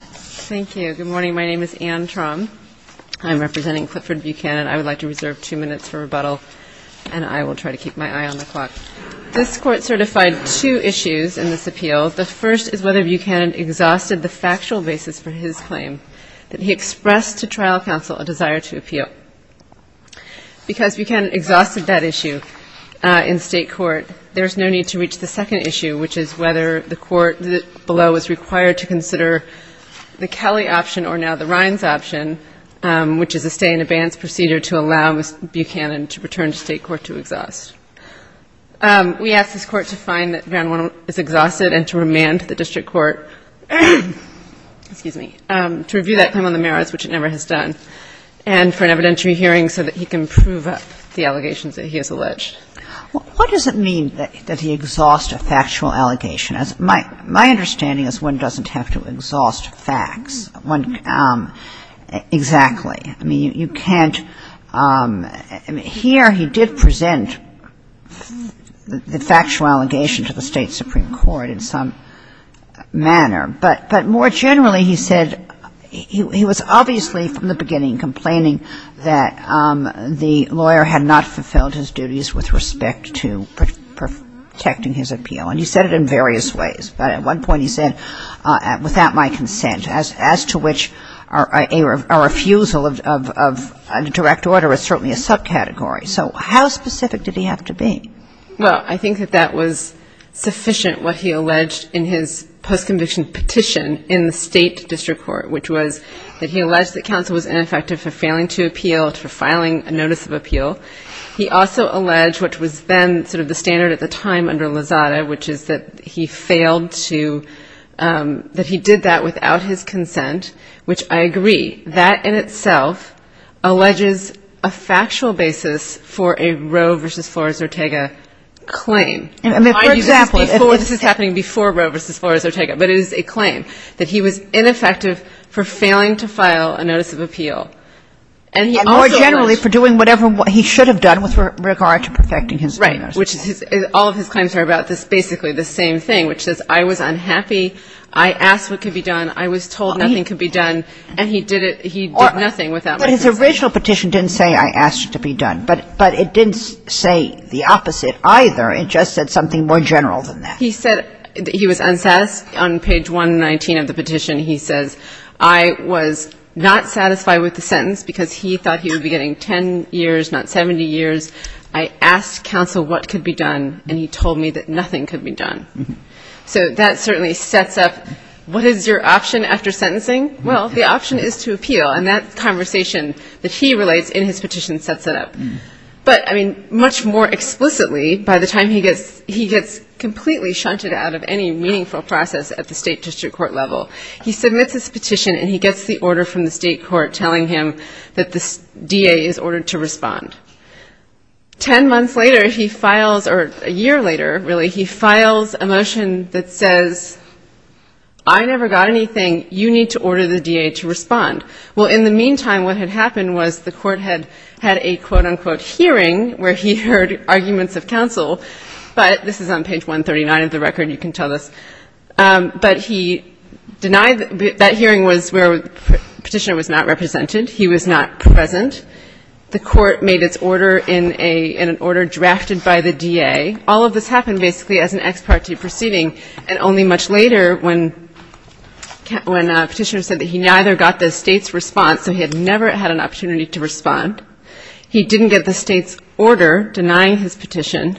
Thank you. Good morning. My name is Anne Traum. I'm representing Clifford Buchanan. I would like to reserve two minutes for rebuttal, and I will try to keep my eye on the clock. This court certified two issues in this appeal. The first is whether Buchanan exhausted the factual basis for his claim that he expressed to trial counsel a desire to appeal. Because Buchanan exhausted that issue in state court, there is no need to reach the second issue, which is whether the court below is required to consider the Kelly option or now the Rhines option, which is a stay-in-advance procedure to allow Buchanan to return to state court to exhaust. We ask this court to find that Van Wonen is exhausted and to remand the district court to review that claim on the merits, which it never has done, and for an evidentiary hearing so that he can prove up the allegations that he has alleged. What does it mean that he exhaust a factual allegation? My understanding is one doesn't have to exhaust facts. Exactly. I mean, you can't. Here he did present the factual allegation to the state Supreme Court in some manner. But more generally, he said he was obviously from the beginning complaining that the lawyer had not fulfilled his duties with respect to protecting his appeal. And he said it in various ways. But at one point, he said, without my consent, as to which a refusal of a direct order is certainly a subcategory. So how specific did he have to be? Well, I think that that was sufficient what he alleged in his post-conviction petition in the state district court, which was that he alleged that counsel was ineffective for failing to appeal, for filing a notice of appeal. He also alleged, which was then sort of the standard at the time under Lozada, which is that he failed to, that he did that without his consent, which I agree. That in itself alleges a factual basis for a Roe versus Flores-Ortega claim. And for example, if this is happening before Roe versus Flores-Ortega, but it is a claim that he was ineffective for failing to file a notice of appeal. And more generally, for doing whatever he should have done with regard to protecting his appeal. Which is his, all of his claims are about this basically the same thing, which says I was unhappy, I asked what could be done, I was told nothing could be done, and he did it, he did nothing without my consent. But his original petition didn't say I asked it to be done. But it didn't say the opposite either. It just said something more general than that. He said that he was unsatisfied. On page 119 of the petition, he says, I was not satisfied with the sentence because he thought he would be getting 10 years, not 70 years. I asked counsel what could be done, and he told me that nothing could be done. So that certainly sets up, what is your option after sentencing? Well, the option is to appeal. And that conversation that he relates in his petition sets it up. But I mean, much more explicitly, by the time he gets completely shunted out of any meaningful process at the state district court level, he submits his petition and he gets the order from the state court telling him that the DA is ordered to respond. 10 months later, he files, or a year later, really, he files a motion that says, I never got anything. You need to order the DA to respond. Well, in the meantime, what had happened was the court had had a quote unquote hearing where he heard arguments of counsel. But this is on page 139 of the record. You can tell this. But he denied that hearing was where the petitioner was not represented. He was not present. The court made its order in an order drafted by the DA. All of this happened, basically, as an ex parte proceeding. And only much later, when a petitioner said that he neither got the state's response, so he had never had an opportunity to respond, he didn't get the state's order denying his petition.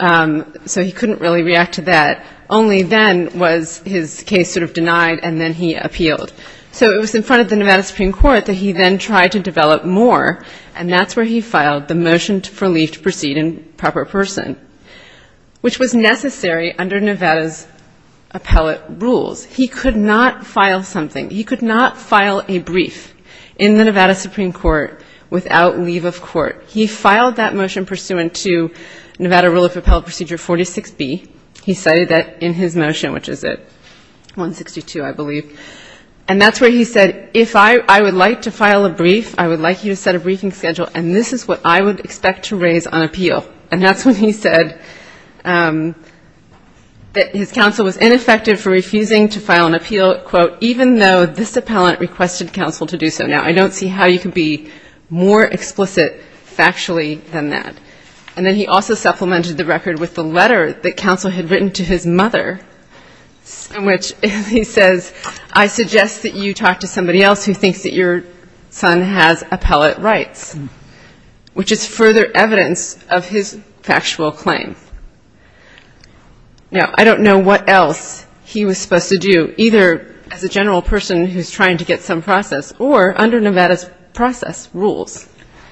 So he couldn't really react to that. Only then was his case sort of denied, and then he appealed. So it was in front of the Nevada Supreme Court that he then tried to develop more. And that's where he filed the motion for leave to proceed in proper person, which was necessary under Nevada's appellate rules. He could not file something. He could not file a brief in the Nevada Supreme Court without leave of court. He filed that motion pursuant to Nevada rule of appellate procedure 46B. He cited that in his motion, which is at 162, I believe. And that's where he said, if I would like to file a brief, I would like you to set a briefing schedule, and this is what I would expect to raise on appeal. And that's when he said that his counsel was ineffective for refusing to file an appeal, quote, even though this appellant requested counsel to do so. Now, I don't see how you can be more explicit factually than that. And then he also supplemented the record with the letter that counsel had written to his mother, in which he says, I suggest that you talk to somebody else who thinks that your son has appellate rights, which is further evidence of his factual claim. Now, I don't know what else he was supposed to do, either as a general person who's trying to get some process, or under Nevada's process rules.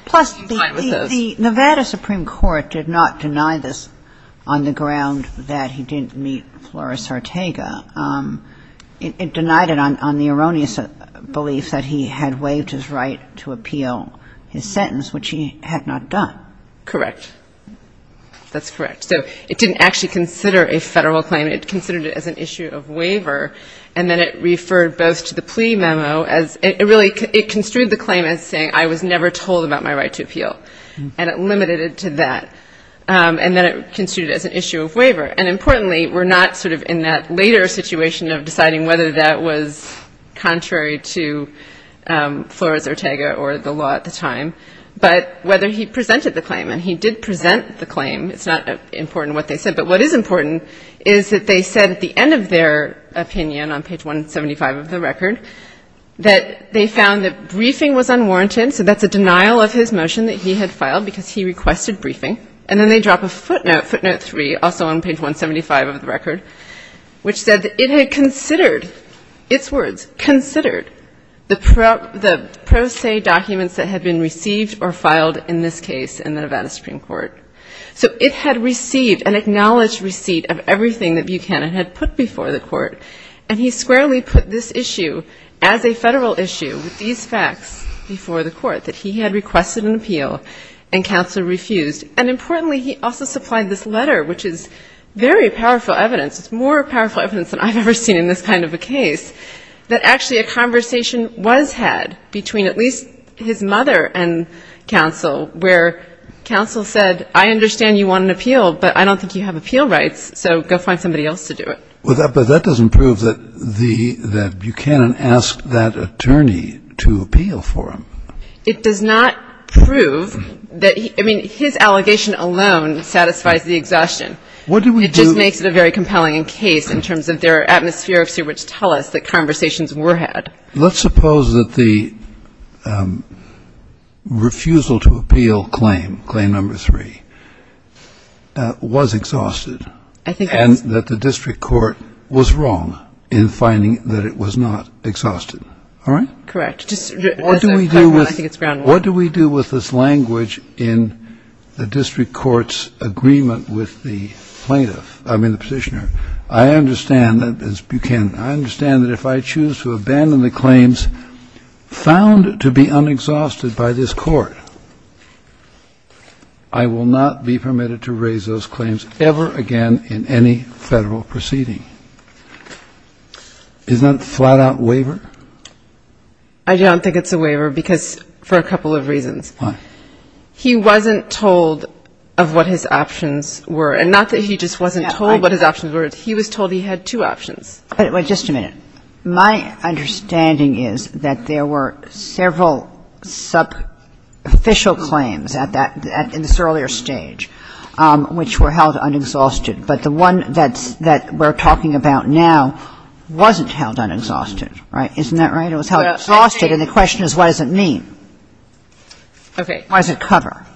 Plus, the Nevada Supreme Court did not ground that he didn't meet Flores-Artega. It denied it on the erroneous belief that he had waived his right to appeal his sentence, which he had not done. Correct. That's correct. So it didn't actually consider a federal claim. It considered it as an issue of waiver, and then it referred both to the plea memo as it really construed the claim as saying, I was never told about my right to appeal. And it limited it to that. And then it construed it as an issue of waiver. And importantly, we're not in that later situation of deciding whether that was contrary to Flores-Artega or the law at the time, but whether he presented the claim. And he did present the claim. It's not important what they said. But what is important is that they said at the end of their opinion on page 175 of the record that they found that briefing was unwarranted. So that's a denial of his motion that he had filed, because he requested briefing. And then they drop a footnote, footnote three, also on page 175 of the record, which said that it had considered, its words, considered the pro se documents that had been received or filed in this case in the Nevada Supreme Court. So it had received an acknowledged receipt of everything that Buchanan had put before the court. And he squarely put this issue as a federal issue with these facts before the court that he had requested an appeal, and counsel refused. And importantly, he also supplied this letter, which is very powerful evidence. It's more powerful evidence than I've ever seen in this kind of a case, that actually a conversation was had between at least his mother and counsel, where counsel said, I understand you want an appeal, but I don't think you have appeal rights, so go find somebody else to do it. But that doesn't prove that Buchanan asked that attorney to appeal for him. It does not prove that he, I mean, his allegation alone satisfies the exhaustion. What do we do? It just makes it a very compelling case in terms of their atmospherics, which tell us that conversations were had. Let's suppose that the refusal to appeal claim, claim number three, was exhausted. I think that's. And that the district court was wrong in finding that it was not exhausted. All right? Correct. What do we do with this language in the district court's agreement with the plaintiff, I mean, the petitioner? I understand that, as Buchanan, I understand that if I choose to abandon the claims found to be unexhausted by this court, I will not be permitted to raise those claims ever again in any Federal proceeding. Isn't that a flat out waiver? I don't think it's a waiver, because for a couple of reasons. Why? He wasn't told of what his options were. And not that he just wasn't told what his options were. He was told he had two options. But wait just a minute. My understanding is that there were several subficial claims at that, in this earlier stage, which were held unexhausted. But the one that we're talking about now wasn't held unexhausted, right? Isn't that right? It was held exhausted, and the question is, what does it mean? Why does it cover?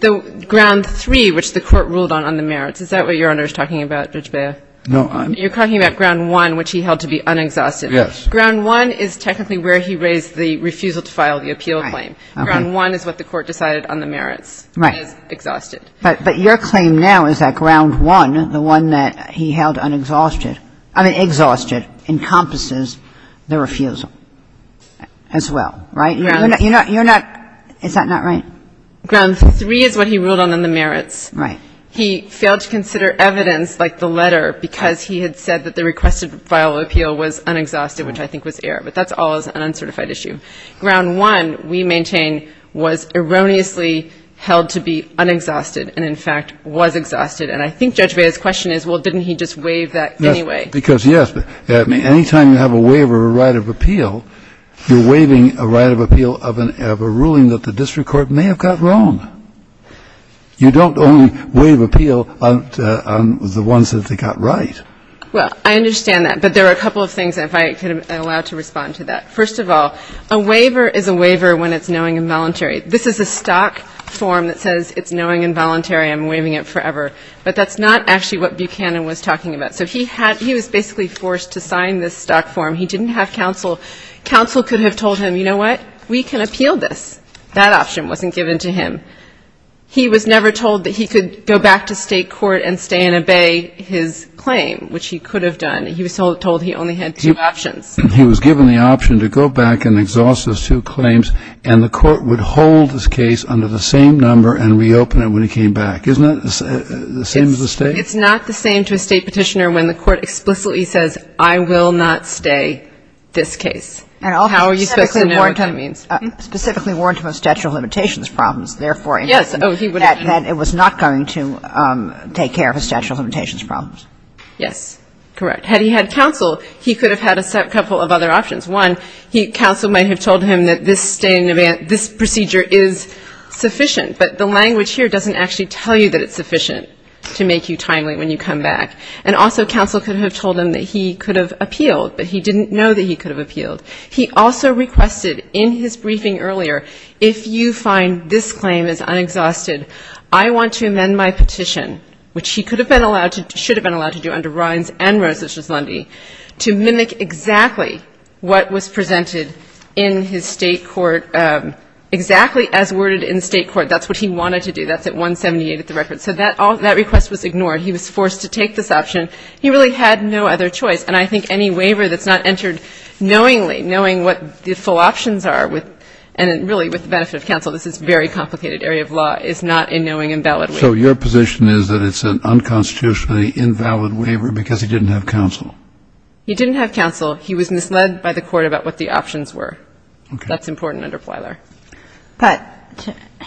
Ground three, which the court ruled on on the merits, is that what Your Honor is talking about, Judge Beyer? No, I'm not. You're talking about ground one, which he held to be unexhausted. Yes. Ground one is technically where he raised the refusal to file the appeal claim. Ground one is what the court decided on the merits. Right. Exhausted. But your claim now is that ground one, the one that he held unexhausted. Exhausted encompasses the refusal as well, right? Is that not right? Ground three is what he ruled on on the merits. Right. He failed to consider evidence, like the letter, because he had said that the requested file of appeal was unexhausted, which I think was error. But that's always an uncertified issue. Ground one, we maintain, was erroneously held to be unexhausted, and in fact, was exhausted. And I think Judge Beyer's question is, well, didn't he just waive that anyway? Because, yes. Any time you have a waiver of a right of appeal, you're waiving a right of appeal of a ruling that the district court may have got wrong. You don't only waive appeal on the ones that they got right. Well, I understand that. But there are a couple of things, if I could have allowed to respond to that. First of all, a waiver is a waiver when it's knowing involuntary. This is a stock form that says, it's knowing involuntary. I'm waiving it forever. But that's not actually what Buchanan was talking about. So he was basically forced to sign this stock form. He didn't have counsel. Counsel could have told him, you know what? We can appeal this. That option wasn't given to him. He was never told that he could go back to state court and stay and obey his claim, which he could have done. He was told he only had two options. He was given the option to go back and exhaust his two claims, and the court would hold his case under the same number and reopen it when he came back. Isn't that the same as the state? It's not the same to a state petitioner when the court explicitly says, I will not stay this case. How are you supposed to know what that means? Specifically warned him of statute of limitations problems, therefore, that it was not going to take care of his statute of limitations problems. Yes, correct. Had he had counsel, he could have had a couple of other options. One, counsel might have told him that this procedure is sufficient. But the language here doesn't actually tell you that it's sufficient to make you timely when you come back. And also, counsel could have told him that he could have appealed, but he didn't know that he could have appealed. He also requested in his briefing earlier, if you find this claim is unexhausted, I want to amend my petition, which he could have been allowed to do, should have been allowed to do under Rines and Rosas-Lundy, to mimic exactly what was presented in his state court, exactly as worded in state court. That's what he wanted to do. That's at 178 at the record. So that request was ignored. He was forced to take this option. He really had no other choice. And I think any waiver that's not entered knowingly, knowing what the full options are, and really, with the benefit of counsel, this is a very complicated area of law, is not a knowing and valid waiver. So your position is that it's an unconstitutionally invalid waiver because he didn't have counsel? He didn't have counsel. He was misled by the court about what the options were. That's important under Plyler. But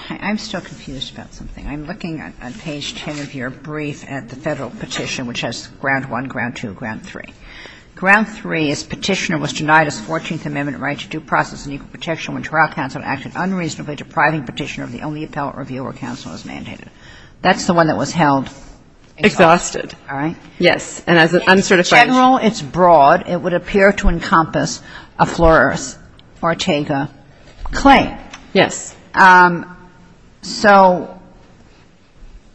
I'm still confused about something. I'm looking at page 10 of your brief at the Federal petition, which has ground one, ground two, ground three. Ground three is Petitioner was denied his 14th Amendment right to due process and equal protection when trial counsel acted unreasonably, depriving Petitioner of the only appellate reviewer counsel is mandated. That's the one that was held. Exhausted. All right. Yes. And as an uncertified. In general, it's broad. It would appear to encompass a Flores-Ortega claim. Yes. So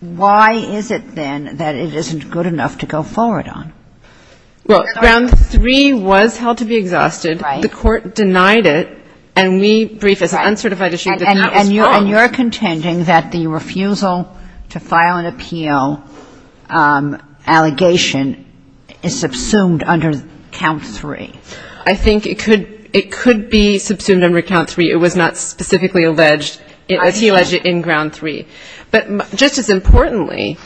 why is it, then, that it isn't good enough to go forward on? Well, ground three was held to be exhausted. The court denied it. And we briefed as an uncertified issue that that was wrong. And you're contending that the refusal to file an appeal allegation is subsumed under count three. I think it could be subsumed under count three. It was not specifically alleged, as he alleged in ground three. But just as importantly,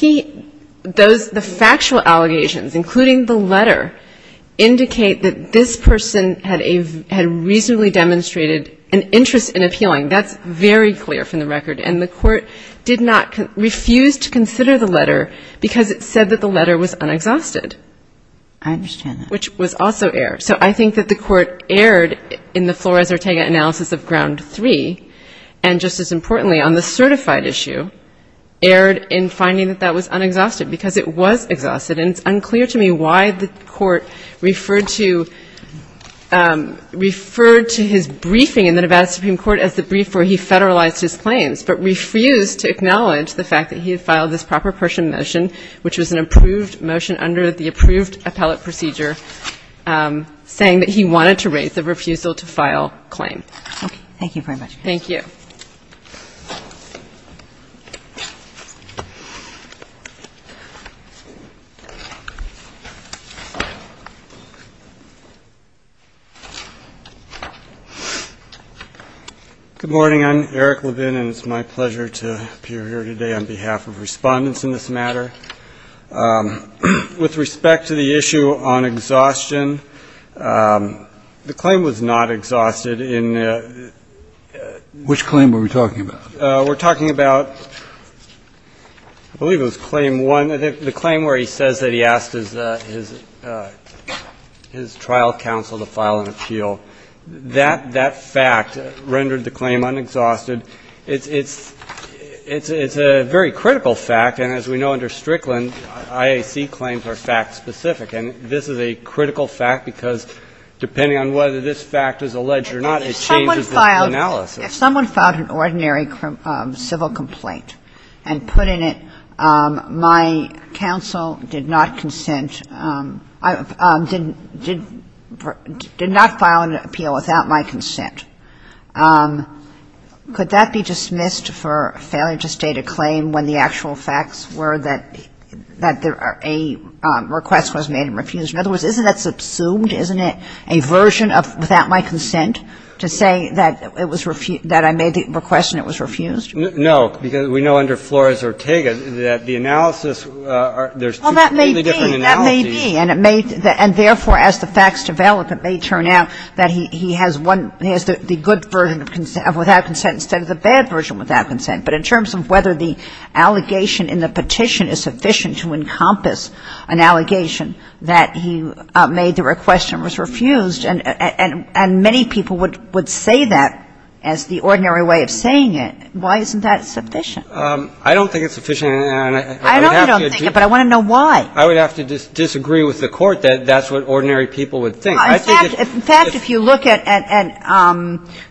the factual allegations, including the letter, indicate that this person had reasonably demonstrated an interest in appealing. That's very clear from the record. And the court did not refuse to consider the letter, because it said that the letter was unexhausted. I understand that. Which was also error. So I think that the court erred in the Flores-Ortega analysis of ground three. And just as importantly, on the certified issue, erred in finding that that was unexhausted. Because it was exhausted. And it's unclear to me why the court referred to his briefing in the Nevada Supreme Court as the brief where he federalized his claims. But refused to acknowledge the fact that he had filed this proper person motion, which was an approved motion under the approved appellate procedure, saying that he wanted to raise the refusal to file claim. OK. Thank you very much. Thank you. Good morning. I'm Eric Levin. And it's my pleasure to appear here today on behalf of respondents in this matter. With respect to the issue on exhaustion, the claim was not exhausted. Which claim were we talking about? We're talking about, I believe it was claim one. The claim where he says that he asked his trial counsel to file an appeal. That fact rendered the claim unexhausted. It's a very critical fact. And as we know under Strickland, IAC claims are fact specific. And this is a critical fact, because depending on whether this fact is alleged or not, it changes the analysis. If someone filed an ordinary civil complaint and put in it, my counsel did not file an appeal without my consent, could that be dismissed for failure to state a claim when the actual facts were that a request was made and refused? In other words, isn't that subsumed? Isn't it a version of without my consent to say that I made the request and it was refused? No, because we know under Flores-Ortega that the analysis, there's two completely different analyses. Well, that may be. And therefore, as the facts develop, it may turn out that he has one, he has the good version of without consent instead of the bad version without consent. But in terms of whether the allegation in the petition is sufficient to encompass an allegation that he made the request and was refused, and many people would say that as the ordinary way of saying it, why isn't that sufficient? I don't think it's sufficient. I know you don't think it, but I want to know why. I would have to disagree with the Court that that's what ordinary people would think. In fact, if you look at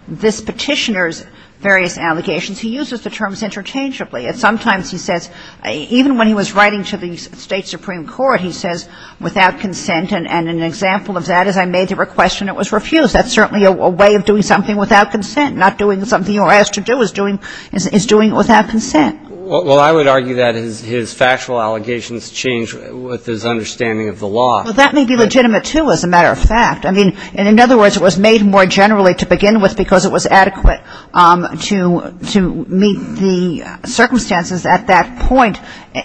this petitioner's various allegations, he uses the terms interchangeably. And sometimes he says, even when he was writing to the State Supreme Court, he says without consent. And an example of that is I made the request and it was refused. That's certainly a way of doing something without consent, not doing something you're asked to do is doing it without consent. Well, I would argue that his factual allegations change with his understanding of the law. Well, that may be legitimate, too, as a matter of fact. I mean, in other words, it was made more generally to begin with because it was adequate to meet the circumstances at that point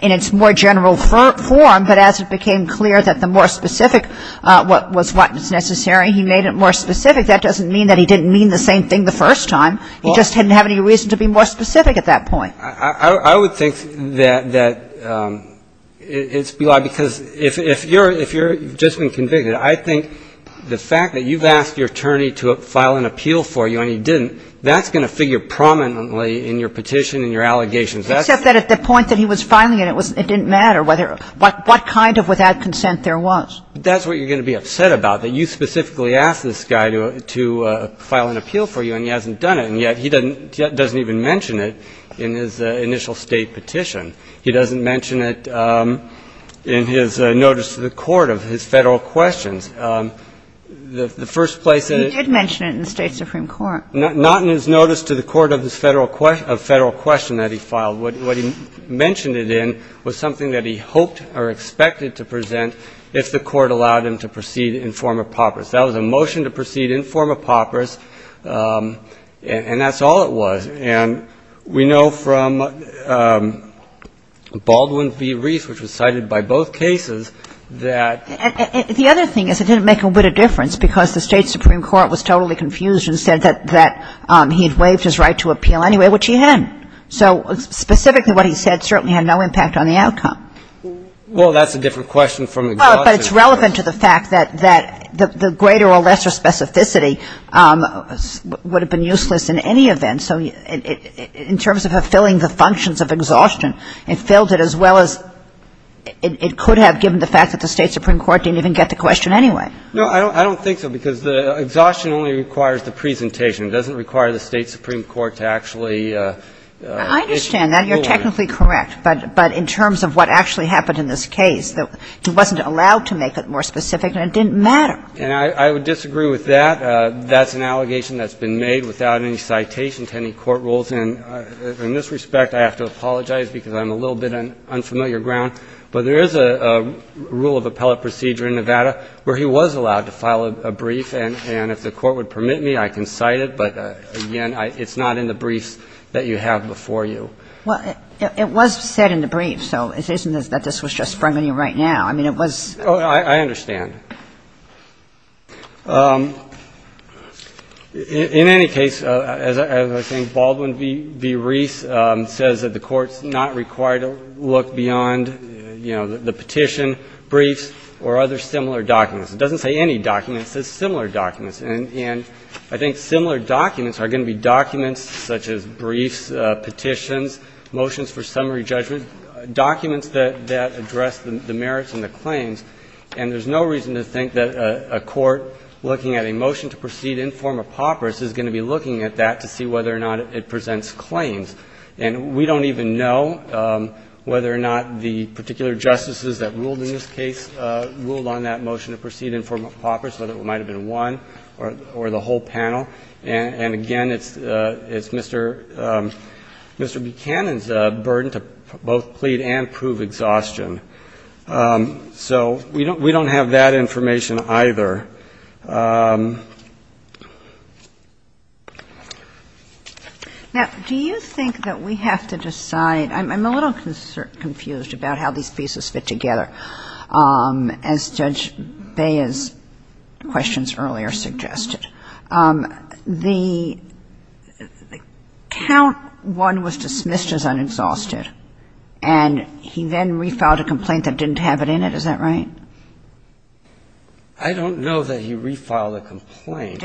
in its more general form. But as it became clear that the more specific was what was necessary, he made it more specific. That doesn't mean that he didn't mean the same thing the first time. He just didn't have any reason to be more specific at that point. I would think that it's belied. Because if you've just been convicted, I think the fact that you've asked your attorney to file an appeal for you and he didn't, that's going to figure prominently in your petition and your allegations. Except that at the point that he was filing it, it didn't matter what kind of without consent there was. But that's what you're going to be upset about, that you specifically asked this guy to file an appeal for you and he hasn't done it. And yet he doesn't even mention it in his initial State petition. He doesn't mention it in his notice to the court of his Federal questions. The first place that it He did mention it in the State Supreme Court. Not in his notice to the court of his Federal question that he filed. What he mentioned it in was something that he hoped or expected to present if the court allowed him to proceed in form of paupers. That was a motion to proceed in form of paupers. And that's all it was. And we know from Baldwin v. Reese, which was cited by both cases, that And the other thing is it didn't make a bit of difference because the State Supreme Court was totally confused and said that he had waived his right to appeal anyway, which he hadn't. So specifically what he said certainly had no impact on the outcome. Well, that's a different question from exhaustion. But it's relevant to the fact that the greater or lesser specificity would have been useless in any event. And so in terms of fulfilling the functions of exhaustion, it filled it as well as it could have given the fact that the State Supreme Court didn't even get the question anyway. No, I don't think so because the exhaustion only requires the presentation. It doesn't require the State Supreme Court to actually I understand that. You're technically correct. But in terms of what actually happened in this case, that he wasn't allowed to make it more specific and it didn't matter. And I would disagree with that. That's an allegation that's been made without any citation to any court rules. And in this respect, I have to apologize because I'm a little bit on unfamiliar ground. But there is a rule of appellate procedure in Nevada where he was allowed to file a brief. And if the court would permit me, I can cite it. But again, it's not in the briefs that you have before you. Well, it was said in the brief. So it isn't that this was just from you right now. I mean, it was. Oh, I understand. In any case, as I think Baldwin v. Reese says that the court's not required to look beyond the petition, briefs, or other similar documents. It doesn't say any documents. It says similar documents. And I think similar documents are going to be documents such as briefs, petitions, motions for summary judgment, documents that address the merits and the claims. And there's no reason to think that the court's going to be looking at that to see whether or not it presents claims. And we don't even know whether or not the particular justices that ruled in this case ruled on that motion to proceed in form of poppers, whether it might have been one or the whole panel. And again, it's Mr. Buchanan's burden to both plead and prove exhaustion. So we don't have that information. Now, do you think that we have to decide – I'm a little confused about how these pieces fit together, as Judge Bea's questions earlier suggested. The count one was dismissed as unexhausted, and he then refiled a complaint that didn't have it in it, is that right? I don't know that he refiled a complaint.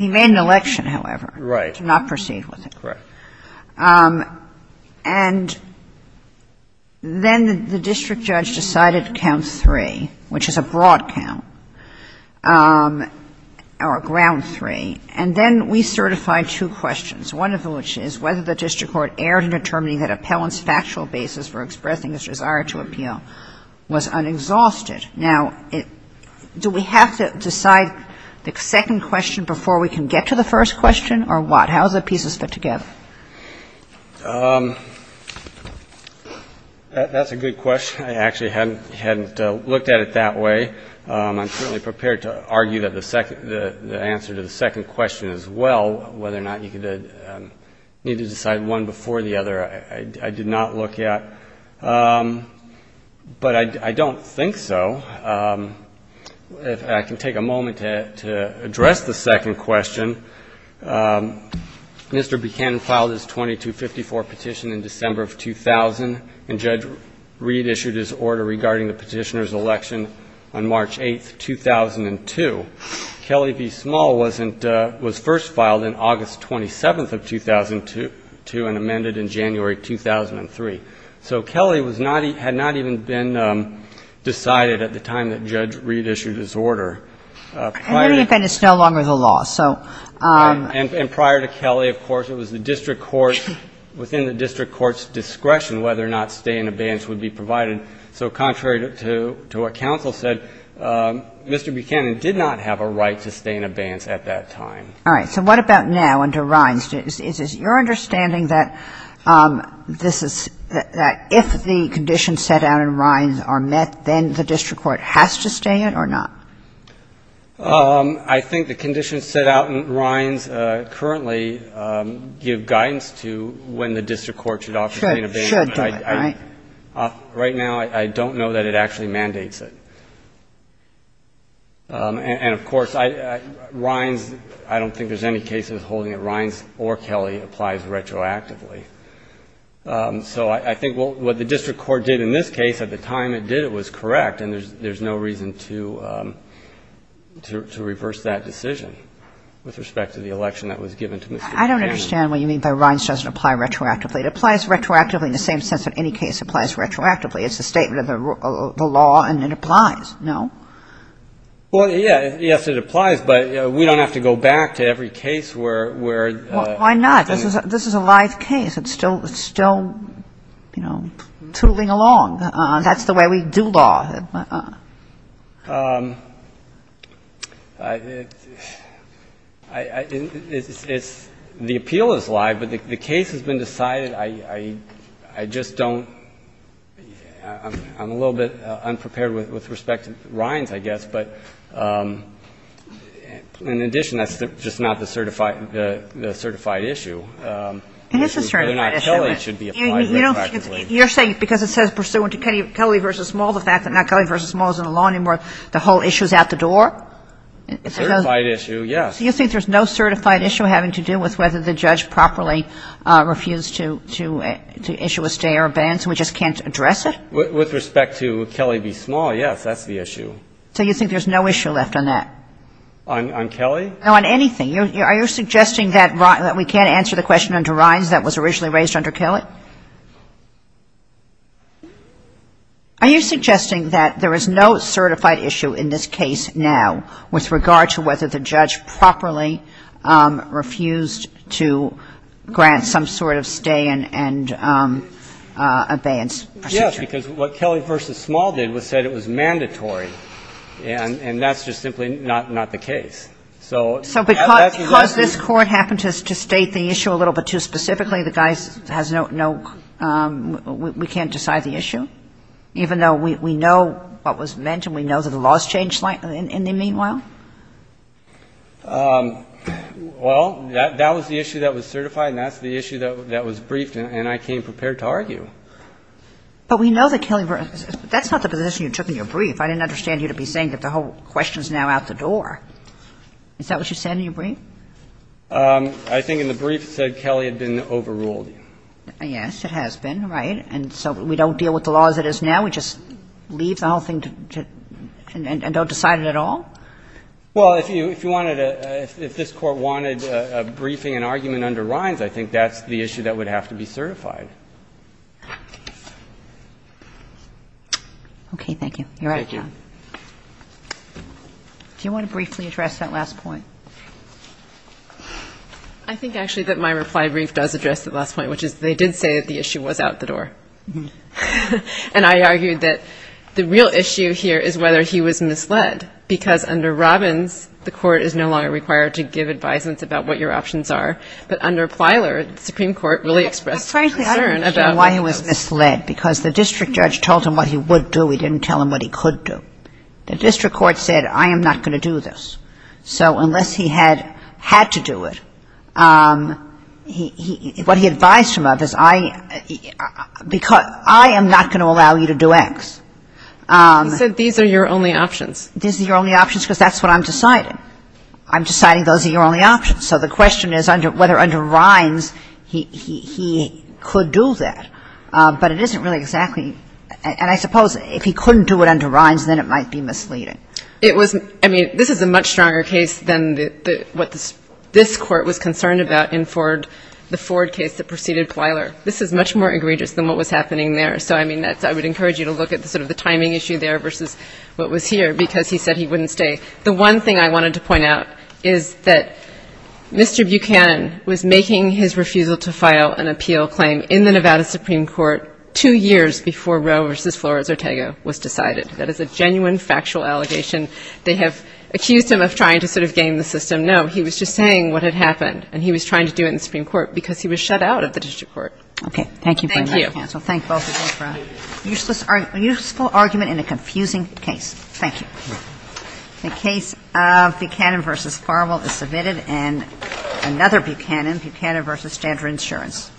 He made an election, however, to not proceed with it. Correct. And then the district judge decided to count three, which is a broad count, or a ground three. And then we certified two questions, one of which is whether the district court erred in determining that appellant's factual basis for expressing his desire to appeal was unexhausted. Now, do we have to decide the second question before we can get to the first question, or what? How do the pieces fit together? That's a good question. I actually hadn't looked at it that way. I'm certainly prepared to argue that the answer to the second question as well, whether or not you need to decide one before the other, I did not look at. But I don't think so. I can take a moment to address the second question. Mr. Buchanan filed his 2254 petition in December of 2000, and Judge Reed issued his order regarding the petitioner's election on March 8, 2002. Kelly v. Small was first filed on August 27 of 2002 and amended in January 2003. So Kelly had not even been decided at the time that Judge Reed issued his order. And then he amended Snow Longer the law. And prior to Kelly, of course, it was within the district court's discretion whether or not stay in abeyance would be provided. So contrary to what counsel said, Mr. Buchanan did not have a right to stay in abeyance at that time. All right, so what about now under Rhines? Is it your understanding that if the conditions set out in Rhines are met, then the district court has to stay in or not? I think the conditions set out in Rhines currently give guidance to when the district court should offer to stay in abeyance. Right now, I don't know that it actually mandates it. And of course, Rhines, I don't think there's any cases holding that Rhines or Kelly applies retroactively. So I think what the district court did in this case, at the time it did, it was correct. And there's no reason to reverse that decision with respect to the election that was given to Mr. Buchanan. I don't understand what you mean by Rhines doesn't apply retroactively. It applies retroactively in the same sense that any case applies retroactively. It's a statement of the law, and it applies, no? Well, yes, it applies. But we don't have to go back to every case where the thing is. Why not? This is a live case. It's still, you know, tooling along. That's the way we do law. I think it's the appeal is live, but the case has been decided. I just don't – I'm a little bit unprepared with respect to Rhines, I guess. But in addition, that's just not the certified issue. It is a certified issue. You're saying because it says pursuant to Kelly v. Small, the fact that not Kelly v. Small is in the law anymore, the whole issue is out the door? A certified issue, yes. So you think there's no certified issue having to do with whether the judge properly refused to issue a stay or a ban, so we just can't address it? With respect to Kelly v. Small, yes, that's the issue. So you think there's no issue left on that? On Kelly? No, on anything. Are you suggesting that we can't answer the question under Rhines that was originally raised under Kelly? Are you suggesting that there is no certified issue in this case now with regard to whether the judge properly refused to grant some sort of stay and abeyance? Yes, because what Kelly v. Small did was said it was mandatory. And that's just simply not the case. So because this Court happened to state the issue a little bit too specifically, the guys has no, we can't decide the issue? Even though we know what was meant and we know that the law has changed in the meanwhile? Well, that was the issue that was certified and that's the issue that was briefed and I came prepared to argue. But we know that Kelly v. Small, that's not the position you took in your brief. I didn't understand you to be saying that the whole question is now out the door. Is that what you said in your brief? I think in the brief it said Kelly had been overruled. Yes, it has been, right? And so we don't deal with the law as it is now? We just leave the whole thing and don't decide it at all? Well, if you wanted to, if this Court wanted a briefing and argument under Rhines, I think that's the issue that would have to be certified. Okay, thank you. Do you want to briefly address that last point? I think actually that my reply brief does address that last point, which is they did say that the issue was out the door. And I argued that the real issue here is whether he was misled because under Robbins, the Court is no longer required to give advisements about what your options are. But under Plyler, the Supreme Court really expressed concern about why he was misled because the district judge told him what he would do. He didn't tell him what he could do. The district court said I am not going to do this. So unless he had had to do it, what he advised him of is I am not going to allow you to do X. You said these are your only options. These are your only options because that's what I'm deciding. I'm deciding those are your only options. So the question is whether under Rhines he could do that. But it isn't really exactly. And I suppose if he couldn't do it under Rhines, then it might be misleading. It was, I mean, this is a much stronger case than what this Court was concerned about in the Ford case that preceded Plyler. This is much more egregious than what was happening there. So I mean, I would encourage you to look at sort of the timing issue there versus what was here because he said he wouldn't stay. The one thing I wanted to point out is that Mr. Buchanan was making his refusal to file an appeal claim in the Nevada Supreme Court two years before Roe versus Flores-Ortega was decided. That is a genuine factual allegation. They have accused him of trying to sort of game the system. No, he was just saying what had happened. And he was trying to do it in the Supreme Court because he was shut out of the district court. Okay. Thank you. Thank you. Thank you both again for a useful argument in a confusing case. Thank you. The case of Buchanan versus Farmwell is submitted. And another Buchanan, Buchanan versus Standard Insurance.